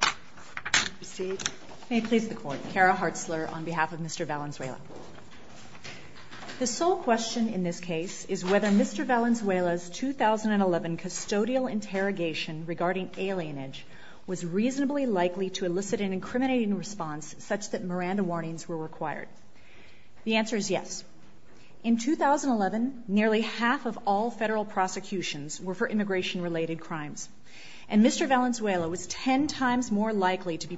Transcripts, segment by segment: The sole question in this case is whether Mr. Valenzuela's 2011 custodial interrogation regarding alienage was reasonably likely to elicit an incriminating response such that Miranda warnings were required. The answer is yes. In 2011, nearly half of all federal to be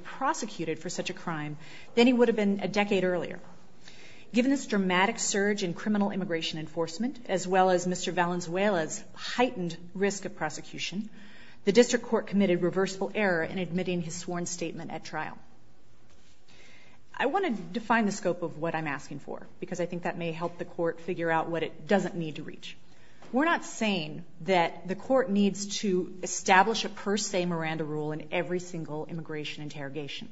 prosecuted for such a crime than he would have been a decade earlier. Given this dramatic surge in criminal immigration enforcement, as well as Mr. Valenzuela's heightened risk of prosecution, the District Court committed reversible error in admitting his sworn statement at trial. I want to define the scope of what I'm asking for, because I think that may help the Court figure out what it doesn't need to reach. We're not saying that the Court needs to establish a per se Miranda rule in every single immigration interrogation.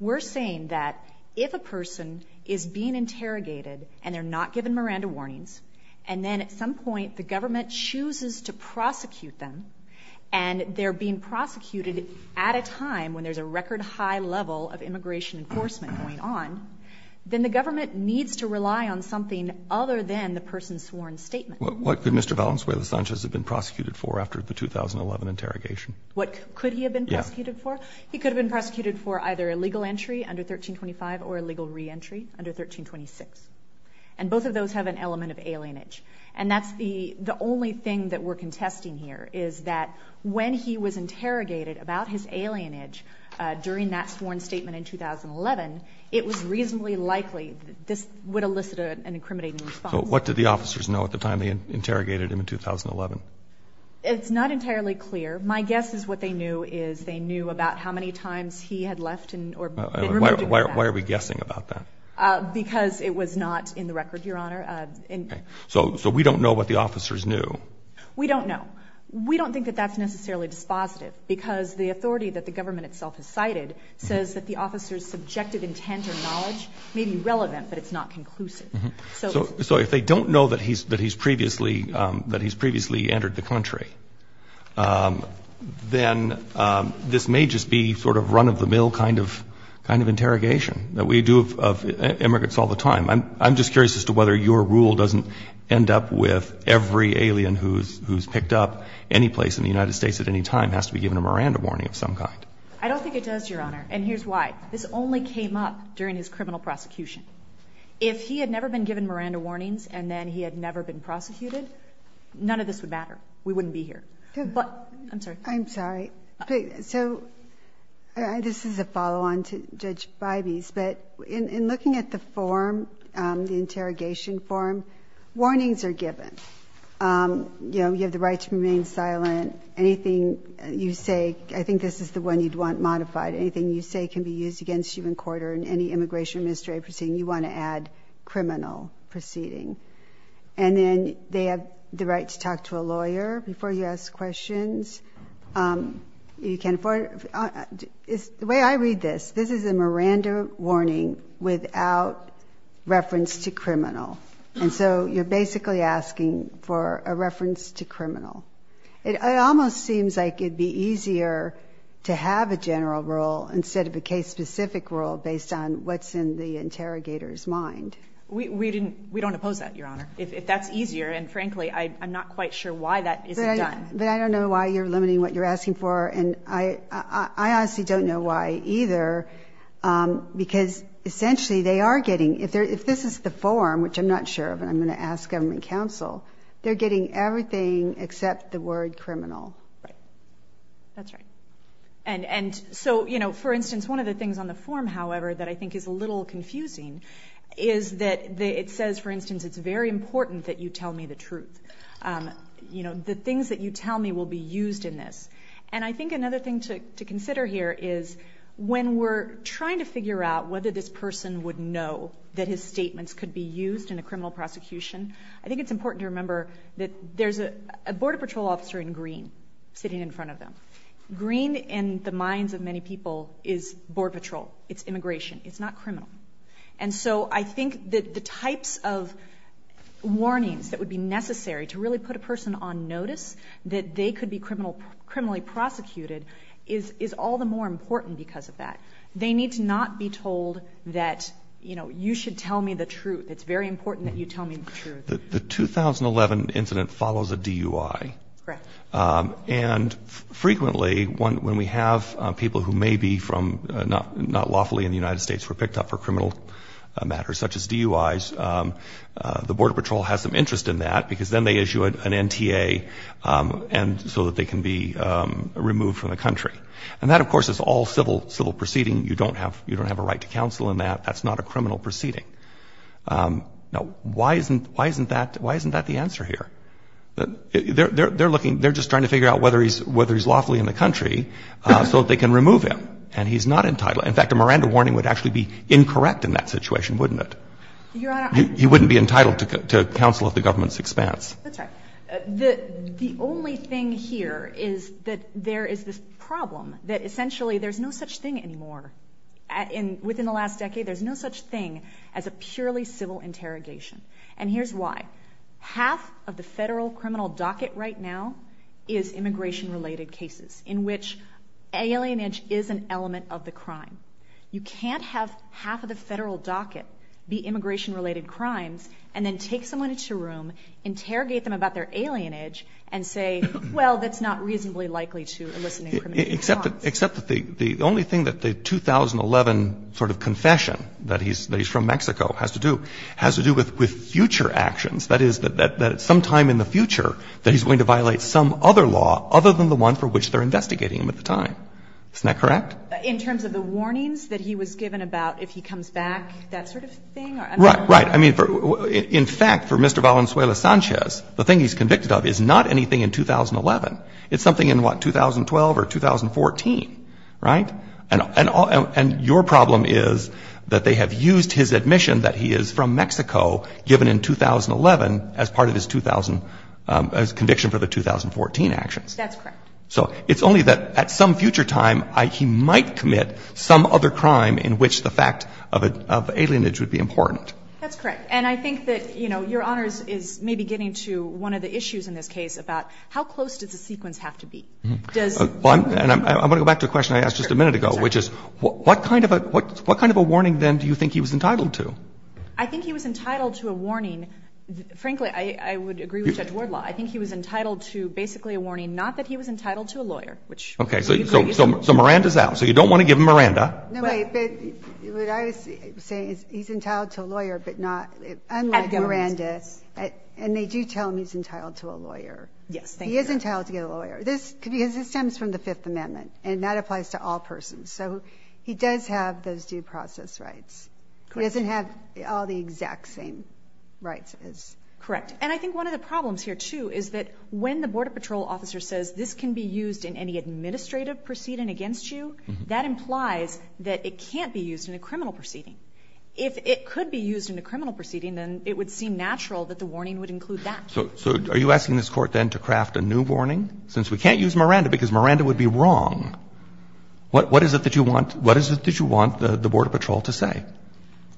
We're saying that if a person is being interrogated and they're not given Miranda warnings, and then at some point the government chooses to prosecute them, and they're being prosecuted at a time when there's a record high level of immigration enforcement going on, then the government needs to rely on something other than the person's sworn statement. What could Mr. Valenzuela Sanchez have been prosecuted for after the 2011 interrogation? What could he have been prosecuted for? Yes. He could have been prosecuted for either illegal entry under 1325 or illegal reentry under 1326. And both of those have an element of alienage. And that's the only thing that we're contesting here, is that when he was interrogated about his alienage during that sworn statement in 2011, it was reasonably likely that this would elicit an incriminating response. So what did the officers know at the time they interrogated him in 2011? It's not entirely clear. My guess is what they knew is they knew about how many times he had left or been removed from the back. Why are we guessing about that? Because it was not in the record, Your Honor. So we don't know what the officers knew? We don't know. We don't think that that's necessarily dispositive, because the authority that the government itself has cited says that the officer's subjective intent or knowledge may be relevant, but it's not conclusive. So if they don't know that he's previously entered the country, then this may just be sort of run-of-the-mill kind of interrogation that we do of immigrants all the time. I'm just curious as to whether your rule doesn't end up with every alien who's picked up anyplace in the United States at any time has to be given a Miranda warning of some kind. I don't think it does, Your Honor. And here's why. This only came up during his been given Miranda warnings and then he had never been prosecuted, none of this would matter. We wouldn't be here. I'm sorry. I'm sorry. So this is a follow-on to Judge Bybee's, but in looking at the form, the interrogation form, warnings are given. You know, you have the right to remain silent. Anything you say, I think this is the one you'd want modified. Anything you say can be used against you in court or in any immigration administrative proceeding, you want to add criminal proceeding. And then they have the right to talk to a lawyer before you ask questions. You can't afford it. The way I read this, this is a Miranda warning without reference to criminal. And so you're basically asking for a reference to criminal. It almost seems like it'd be easier to have a general rule instead of a specific rule based on what's in the interrogator's mind. We don't oppose that, Your Honor. If that's easier, and frankly, I'm not quite sure why that isn't done. But I don't know why you're limiting what you're asking for, and I honestly don't know why either, because essentially they are getting, if this is the form, which I'm not sure of and I'm going to ask government counsel, they're getting everything except the word criminal. Right. That's right. And so, for instance, one of the things on the form, however, that I think is a little confusing is that it says, for instance, it's very important that you tell me the truth. The things that you tell me will be used in this. And I think another thing to consider here is when we're trying to figure out whether this person would know that his statements could be used in a criminal prosecution, I think it's important to remember that there's a border patrol officer in green sitting in front of them. Green, in the minds of many people, is border patrol. It's immigration. It's not criminal. And so I think that the types of warnings that would be necessary to really put a person on notice, that they could be criminally prosecuted, is all the more important because of that. They need to not be told that, you know, you should tell me the truth. It's very important that you tell me the truth. The 2011 incident follows a DUI. Correct. And frequently when we have people who may be from not lawfully in the United States who were picked up for criminal matters such as DUIs, the border patrol has some interest in that because then they issue an NTA and so that they can be removed from the country. And that, of course, is all civil proceeding. You don't have a right to counsel in that. That's not a criminal proceeding. Now, why isn't that the answer here? They're looking, they're just trying to figure out whether he's lawfully in the country so that they can remove him. And he's not entitled. In fact, a Miranda warning would actually be incorrect in that situation, wouldn't it? Your Honor. He wouldn't be entitled to counsel at the government's expense. That's right. The only thing here is that there is this problem that essentially there's no such thing anymore. Within the last decade, there's no such thing as a purely civil interrogation. And here's why. Half of the Federal criminal docket right now is immigration-related cases in which alienage is an element of the crime. You can't have half of the Federal docket be immigration-related crimes and then take someone into a room, interrogate them about their alienage, and say, well, that's not reasonably likely to elicit any criminal response. Except that the only thing that the 2011 sort of confession that he's from Mexico has to do with future actions, that is, that at some time in the future that he's going to violate some other law other than the one for which they're investigating him at the time. Isn't that correct? In terms of the warnings that he was given about if he comes back, that sort of thing? Right. Right. I mean, in fact, for Mr. Valenzuela-Sanchez, the thing he's convicted of is not anything in 2011. It's something in, what, 2012 or 2014, right? And your problem is that they have used his admission that he is from Mexico given in 2011 as part of his conviction for the 2014 actions. That's correct. So it's only that at some future time he might commit some other crime in which the fact of alienage would be important. That's correct. And I think that, you know, Your Honors is maybe getting to one of the issues in this case about how close does a sequence have to be. And I want to go back to a question I asked just a minute ago, which is what kind of a warning then do you think he was entitled to? I think he was entitled to a warning. Frankly, I would agree with Judge Wardlaw. I think he was entitled to basically a warning not that he was entitled to a lawyer, which you could use. Okay. So Miranda's out. So you don't want to give him Miranda. No, wait. What I was saying is he's entitled to a lawyer, but not unlike Miranda. And they do tell him he's entitled to a lawyer. Yes. He is entitled to get a lawyer. This stems from the Fifth Amendment, and that applies to all persons. So he does have those due process rights. Correct. He doesn't have all the exact same rights as his. Correct. And I think one of the problems here, too, is that when the Border Patrol officer says this can be used in any administrative proceeding against you, that implies that it can't be used in a criminal proceeding. If it could be used in a criminal proceeding, then it would seem natural that the warning would include that. So are you asking this Court, then, to craft a new warning? Since we can't use Miranda because Miranda would be wrong, what is it that you want the Border Patrol to say?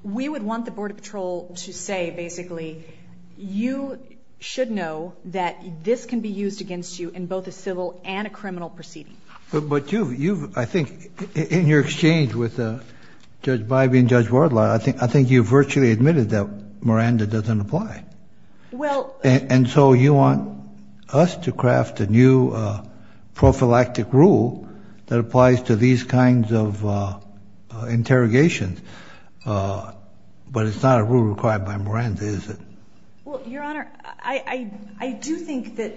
We would want the Border Patrol to say, basically, you should know that this can be used against you in both a civil and a criminal proceeding. But you've, I think, in your exchange with Judge Bybee and Judge Wardlaw, I think you've virtually admitted that Miranda doesn't apply. And so you want us to craft a new prophylactic rule that applies to these kinds of interrogations, but it's not a rule required by Miranda, is it? Well, Your Honor, I do think that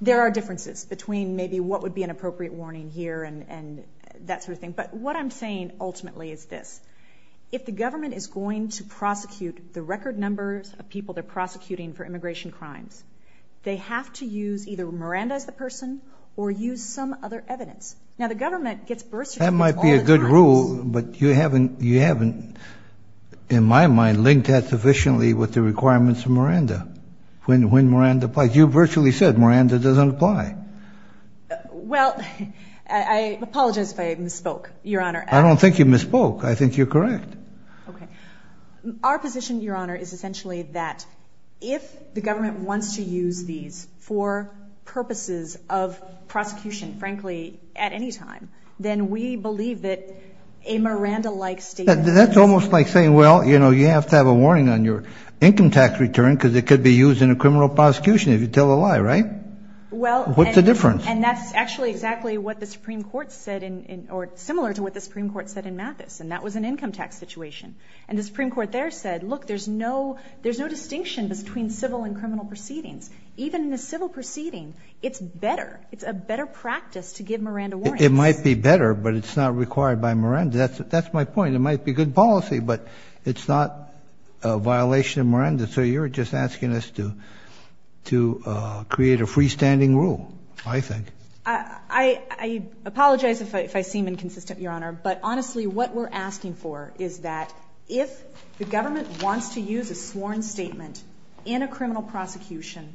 there are differences between maybe what would be an appropriate warning here and that sort of thing. But what I'm saying, ultimately, is this. If the government is going to prosecute the record numbers of people they're prosecuting for immigration crimes, they have to use either Miranda as the person or use some other evidence. Now, the government gets birth certificates all at once. That might be a good rule, but you haven't, in my mind, linked that sufficiently with the requirements of Miranda when Miranda applies. You virtually said Miranda doesn't apply. Well, I apologize if I misspoke, Your Honor. I don't think you misspoke. I think you're correct. Our position, Your Honor, is essentially that if the government wants to use these for purposes of prosecution, frankly, at any time, then we believe that a Miranda-like statement is... That's almost like saying, well, you know, you have to have a warning on your income tax return because it could be used in a criminal prosecution if you tell a lie, right? Well... What's the difference? And that's actually exactly what the Supreme Court said in, or similar to what the Supreme Court said in Mathis, and that was an income tax situation. And the Supreme Court there said, look, there's no distinction between civil and criminal proceedings. Even in a civil proceeding, it's better. It's a better practice to give Miranda warrants. It might be better, but it's not required by Miranda. That's my point. It might be good policy, but it's not a violation of Miranda. So you're just asking us to create a freestanding rule, I think. I apologize if I seem inconsistent, Your Honor, but honestly, what we're asking for is that if the government wants to use a sworn statement in a criminal prosecution,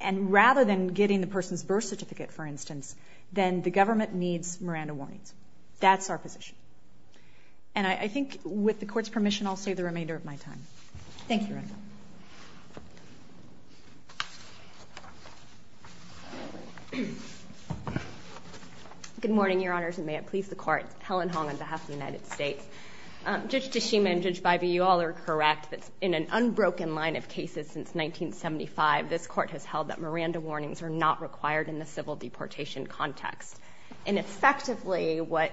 and rather than getting the person's birth certificate, for instance, then the government needs Miranda warnings. That's our position. And I think with the Court's permission, I'll save the remainder of my time. Thank you, Your Honor. Good morning, Your Honors, and may it please the Court. Helen Hong on behalf of the United States. Judge DeShima and Judge Bybee, you all are correct that in an unbroken line of cases since 1975, this Court has held that Miranda warnings are not required in the civil deportation context. And effectively, what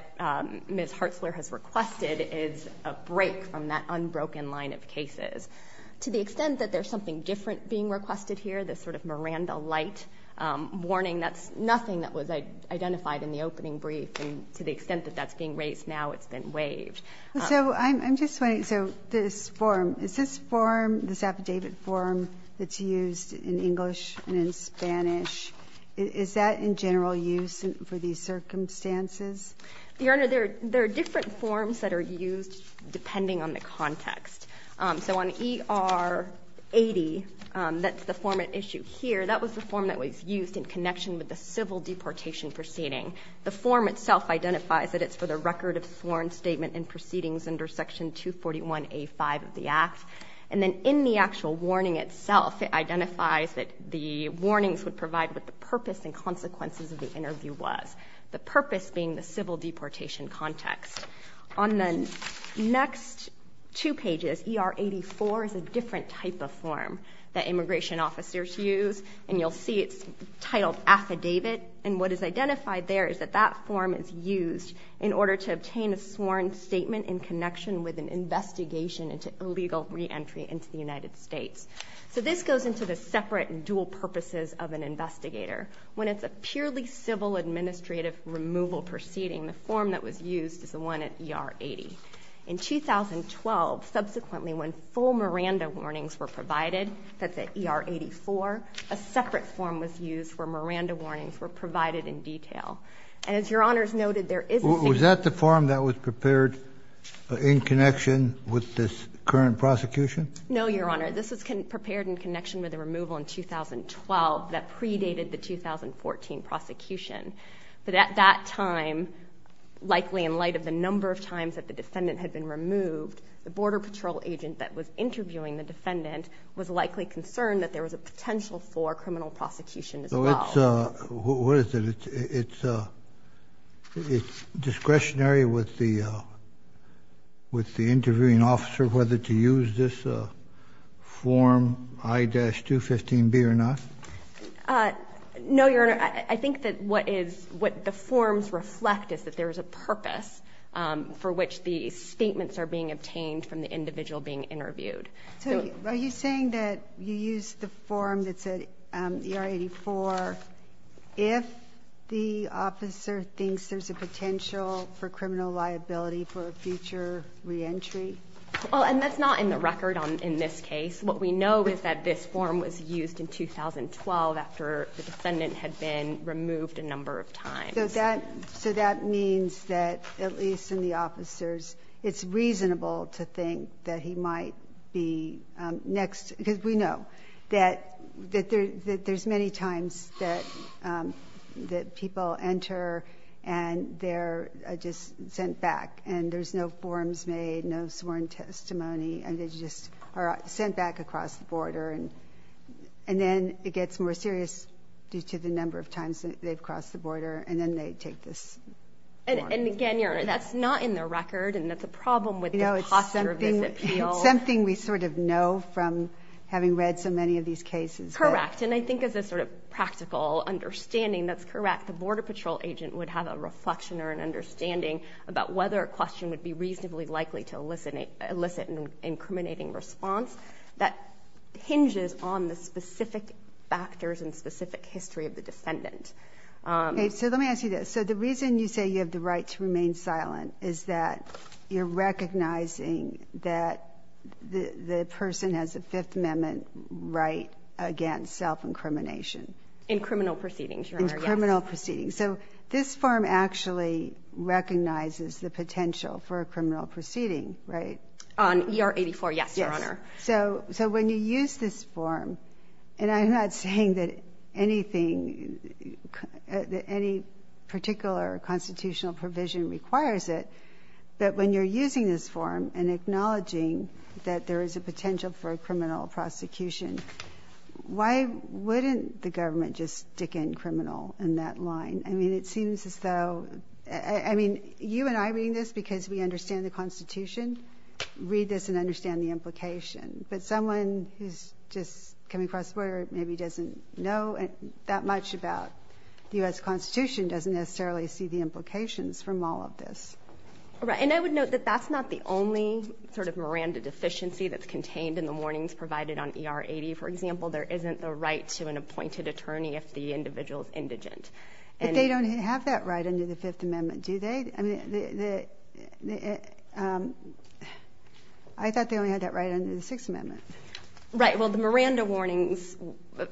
Ms. Hartzler has requested is a break from that in most cases. To the extent that there's something different being requested here, this sort of Miranda-lite warning, that's nothing that was identified in the opening brief. And to the extent that that's being raised now, it's been waived. So I'm just wondering, so this form, is this form, this affidavit form that's used in English and in Spanish, is that in general use for these circumstances? Your Honor, there are different forms that are used depending on the context. So on ER 80, that's the form at issue here. That was the form that was used in connection with the civil deportation proceeding. The form itself identifies that it's for the record of sworn statement and proceedings under Section 241A5 of the Act. And then in the actual warning itself, it identifies that the warnings would provide what the purpose and consequences of the interview was. The purpose being the civil deportation context. On the next two pages, ER 84 is a different type of form that immigration officers use. And you'll see it's titled Affidavit. And what is identified there is that that form is used in order to obtain a sworn statement in connection with an investigation into illegal reentry into the United States. So this goes into the separate and dual purposes of an investigator. When it's a purely civil administrative removal proceeding, the form that was used is the one at ER 80. In 2012, subsequently when full Miranda warnings were provided, that's at ER 84, a separate form was used where Miranda warnings were provided in detail. And as Your Honors noted, there is a... Was that the form that was prepared in connection with this current prosecution? No, Your Honor. This was prepared in connection with the removal in 2012 that predated the 2014 prosecution. But at that time, likely in light of the number of times that the defendant had been removed, the Border Patrol agent that was interviewing the defendant was likely concerned that there was a potential for criminal prosecution as well. So it's... What is it? It's discretionary with the interviewing officer whether to use this form I-215B or not? No, Your Honor. I think that what is... What the forms reflect is that there is a purpose for which the statements are being obtained from the individual being interviewed. So are you saying that you used the form that's at ER 84 if the officer thinks there's a potential for criminal liability for a future reentry? Well, and that's not in the record in this case. What we know is that this form was used in 2012 after the defendant had been removed a number of times. So that means that at least in the officers, it's reasonable to think that he might be next because we know that there's many times that people enter and they're just sent back and there's no forms made, no sworn testimony, and they just are sent back across the border. And then it gets more serious due to the number of times they've crossed the border and then they take this form. And again, Your Honor, that's not in the record and that's a problem with the posture of this appeal. It's something we sort of know from having read so many of these cases. Correct. And I think as a sort of practical understanding, that's correct. The Border Patrol agent would have a reflection or an understanding about whether a question would be reasonably likely to elicit an incriminating response that hinges on the specific factors and specific history of the defendant. Okay, so let me ask you this. So the reason you say you have the right to remain silent is that you're recognizing that the person has a Fifth Amendment right against self-incrimination. In criminal proceedings, Your Honor, yes. In criminal proceedings. So this form actually recognizes the potential for a criminal proceeding, right? On ER 84, yes, Your Honor. Yes. So when you use this form, and I'm not saying that anything, that any particular constitutional provision requires it, but when you're using this form and acknowledging that there is a potential for a criminal prosecution, why wouldn't the government just stick in criminal in that line? I mean, it seems as though, I mean, you and I are reading this because we understand the Constitution, read this and understand the implication. But someone who's just coming across the border maybe doesn't know that much about the U.S. Constitution doesn't necessarily see the implications from all of this. Right. And I would note that that's not the only sort of Miranda deficiency that's contained in the warnings provided on ER 80, for example. There isn't the right to an appointed attorney if the individual's indigent. But they don't have that right under the Fifth Amendment, do they? I mean, I thought they only had that right under the Sixth Amendment. Right. Well, the Miranda warnings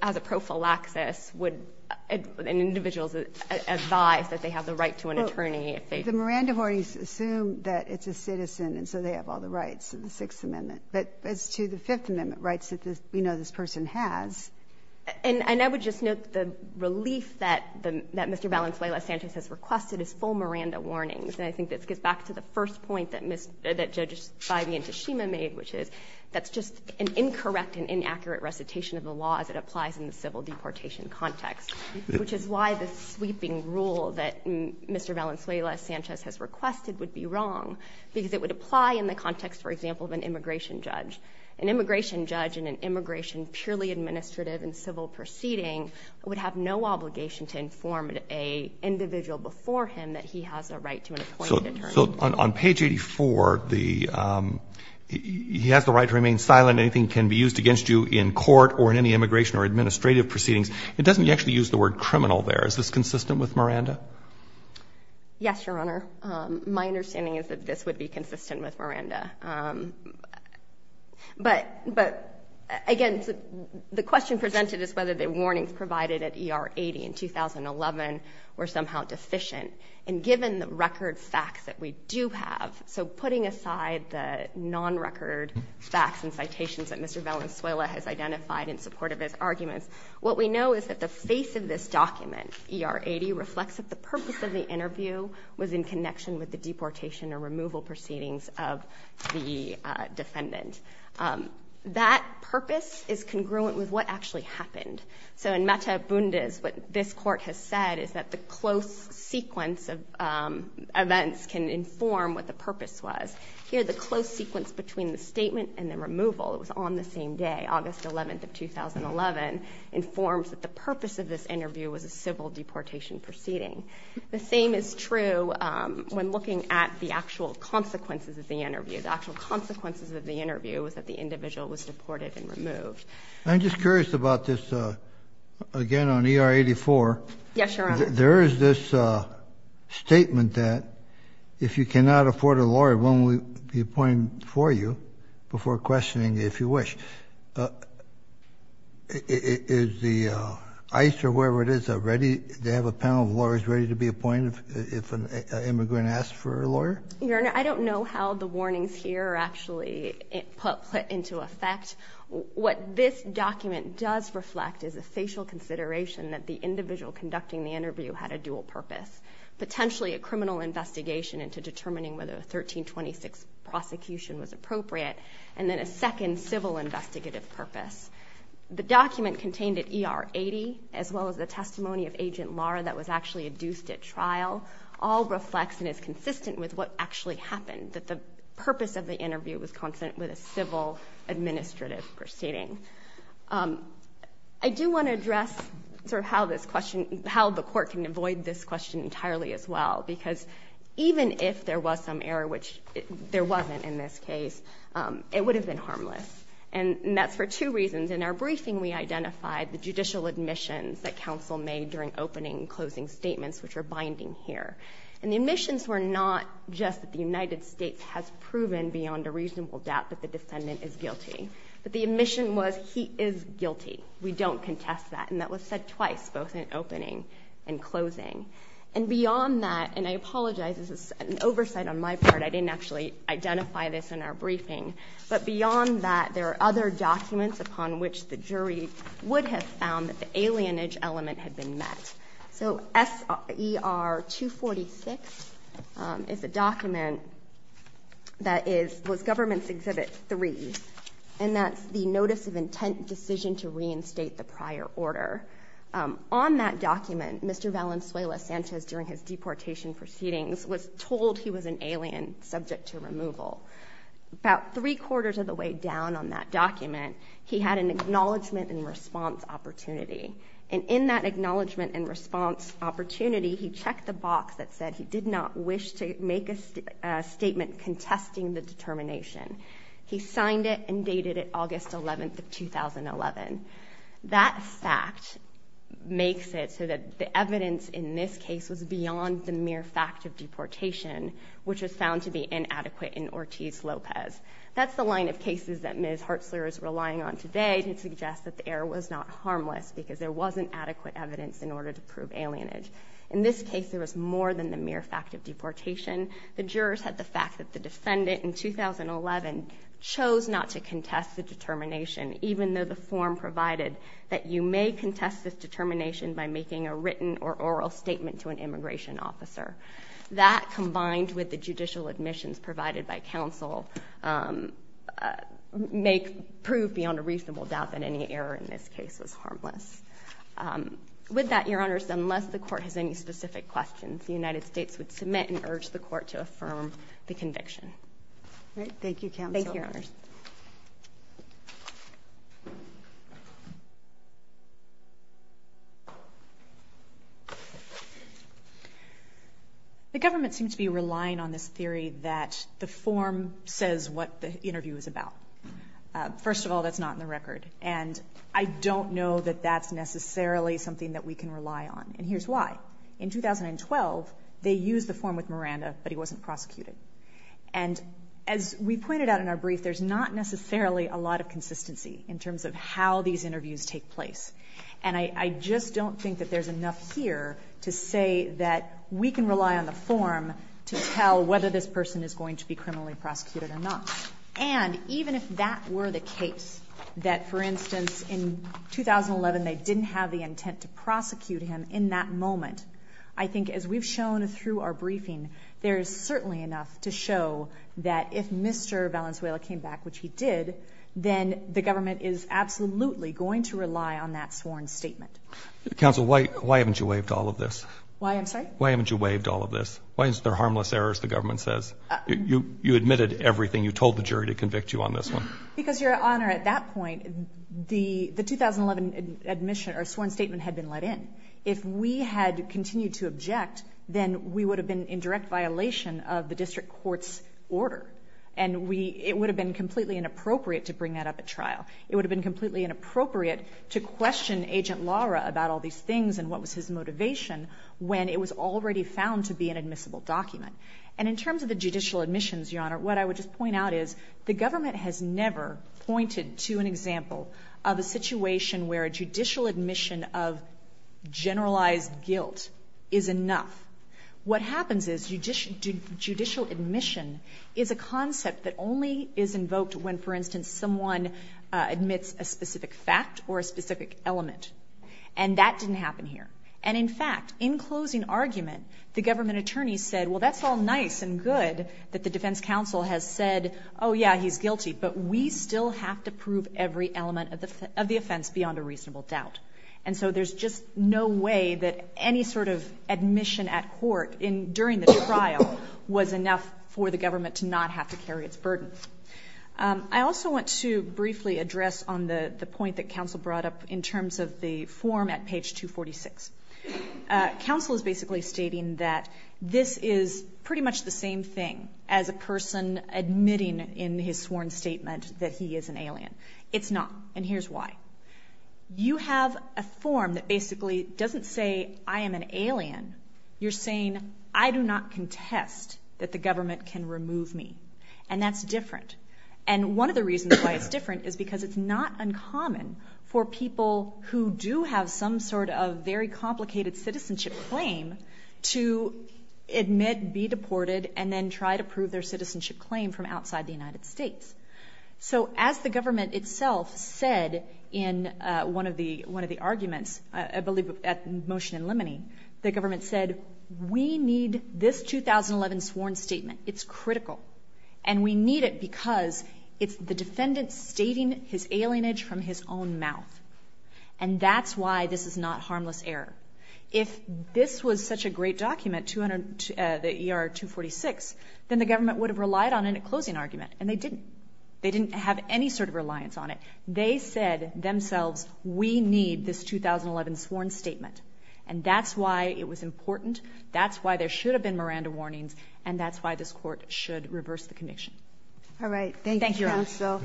as a prophylaxis would, and individuals advise that they have the right to an attorney if they The Miranda warnings assume that it's a citizen, and so they have all the rights of the Sixth Amendment. But as to the Fifth Amendment rights, we know this person has. And I would just note that the relief that Mr. Valenzuela-Sanchez has requested is full Miranda warnings. And I think this gets back to the first point that Ms. — that Judges Feige and Tashima made, which is that's just an incorrect and inaccurate recitation of the law as it applies in the civil deportation context, which is why the sweeping rule that Mr. Valenzuela-Sanchez has requested would be wrong, because it would apply in the context, for example, of an immigration judge. An immigration judge in an immigration purely administrative and civil proceeding would have no obligation to inform an individual before him that he has a right to an appointed attorney. So on page 84, he has the right to remain silent. Anything can be used against you in court or in any immigration or administrative proceedings. It doesn't actually use the word criminal there. Is this consistent with Miranda? Yes, Your Honor. My understanding is that this would be consistent with Miranda. But, again, the question presented is whether the warnings provided at ER 80 in 2011 were somehow deficient. And given the record facts that we do have, so putting aside the non-record facts and citations that Mr. Valenzuela has identified in support of his arguments, what we know is that the face of this document, ER 80, reflects that the purpose of the interview was in connection with the deportation or removal proceedings of the defendant. That purpose is congruent with what actually happened. So in Mata Bundes, what this Court has said is that the close sequence of events can inform what the purpose was. Here, the close sequence between the statement and the removal was on the same day, August 11th of 2011, informs that the purpose of this interview was a civil deportation proceeding. The same is true when looking at the actual consequences of the interview. The actual consequences of the interview was that the individual was deported and removed. I'm just curious about this, again, on ER 84. Yes, Your Honor. There is this statement that if you cannot afford a lawyer, one will be appointed for you before questioning, if you wish. Is the ICE or whoever it is, they have a panel of lawyers ready to be appointed if an immigrant asks for a lawyer? Your Honor, I don't know how the warnings here are actually put into effect. What this document does reflect is a facial consideration that the individual conducting the interview had a dual purpose. Potentially a criminal investigation into determining whether a 1326 prosecution was appropriate, and then a second civil investigative purpose. The document contained at ER 80, as well as the testimony of Agent Laura that was actually adduced at trial, all reflects and is consistent with what actually happened, that the purpose of the interview was consonant with a civil administrative proceeding. I do want to address how the court can avoid this question entirely as well, because even if there was some error, which there wasn't in this case, it would have been harmless. And that's for two reasons. In our briefing, we identified the judicial admissions that counsel made during opening and closing statements, which are binding here. And the admissions were not just that the United States has proven beyond a reasonable doubt that the defendant is guilty. But the admission was he is guilty. We don't contest that. And that was said twice, both in opening and closing. And beyond that, and I apologize, this is an oversight on my part. I didn't actually identify this in our briefing. But beyond that, there are other documents upon which the jury would have found that the alienage element had been met. So S.E.R. 246 is a document that was Government's Exhibit 3, and that's the Notice of Intent Decision to Reinstate the Prior Order. On that document, Mr. Valenzuela Sanchez, during his deportation proceedings, was told he was an alien subject to removal. About three-quarters of the way down on that document, he had an Acknowledgement and Response Opportunity. And in that Acknowledgement and Response Opportunity, he checked the box that said he did not wish to make a statement contesting the determination. He signed it and dated it August 11, 2011. That fact makes it so that the evidence in this case was beyond the mere fact of deportation, which was found to be inadequate in Ortiz-Lopez. That's the line of cases that Ms. Hartzler is relying on today to suggest that the error was not harmless, because there wasn't adequate evidence in order to prove alienage. In this case, there was more than the mere fact of deportation. The jurors had the fact that the defendant in 2011 chose not to contest the determination, even though the form provided that you may contest this determination by making a written or oral statement to an immigration officer. That, combined with the judicial admissions provided by counsel, may prove, beyond a reasonable doubt, that any error in this case was harmless. With that, Your Honors, unless the Court has any specific questions, the United States would submit and urge the Court to affirm the conviction. Thank you, Counsel. Thank you, Your Honors. The government seems to be relying on this theory that the form says what the interview is about. First of all, that's not in the record, and I don't know that that's necessarily something that we can rely on, and here's why. In 2012, they used the form with Miranda, but he wasn't prosecuted. And as we pointed out in our brief, there's not necessarily a lot of consistency in terms of how these interviews take place. And I just don't think that there's enough here to say that we can rely on the form to tell whether this person is going to be criminally prosecuted or not. And even if that were the case, that, for instance, in 2011, they didn't have the intent to prosecute him in that moment, I think, as we've shown through our briefing, there's certainly enough to show that if Mr. Valenzuela came back, which he did, then the government is absolutely going to rely on that sworn statement. Counsel, why haven't you waived all of this? Why, I'm sorry? Why haven't you waived all of this? Why is there harmless errors, the government says? You admitted everything. You told the jury to convict you on this one. Because, Your Honor, at that point, the 2011 admission or sworn statement had been let in. If we had continued to object, then we would have been in direct violation of the district court's order. And it would have been completely inappropriate to bring that up at trial. It would have been completely inappropriate to question Agent Lara about all these things and what was his motivation when it was already found to be an admissible document. And in terms of the judicial admissions, Your Honor, what I would just point out is the government has never pointed to an example of a situation where a judicial admission of generalized guilt is enough. What happens is judicial admission is a concept that only is invoked when, for instance, someone admits a specific fact or a specific element. And that didn't happen here. And in fact, in closing argument, the government attorney said, well, that's all nice and good that the defense counsel has said, oh, yeah, he's guilty. But we still have to prove every element of the offense beyond a reasonable doubt. And so there's just no way that any sort of admission at court during the trial was enough for the government to not have to carry its burden. I also want to briefly address on the point that counsel brought up in terms of the form at page 246. Counsel is basically stating that this is pretty much the same thing as a person admitting in his sworn statement that he is an alien. It's not, and here's why. You have a form that basically doesn't say, I am an alien. You're saying, I do not contest that the government can remove me. And that's different. And one of the reasons why it's different is because it's not uncommon for people who do have some sort of very complicated citizenship claim to admit, be deported, and then try to prove their citizenship claim from outside the United States. So as the government itself said in one of the arguments, I believe at the motion in limine, the government said, we need this 2011 sworn statement. It's critical. And we need it because it's the defendant stating his alienage from his own mouth. And that's why this is not harmless error. If this was such a great document, the ER 246, then the government would have relied on a closing argument, and they didn't. They didn't have any sort of reliance on it. They said themselves, we need this 2011 sworn statement. And that's why it was important. That's why there should have been Miranda warnings. And that's why this court should reverse the conviction. Alright, thank you counsel.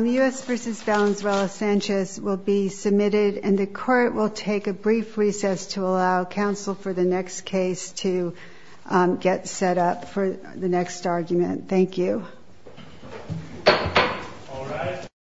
U.S. v. Valenzuela-Sanchez will be submitted, and the court will take a brief recess to allow counsel for the next case to get set up for the next argument. Thank you.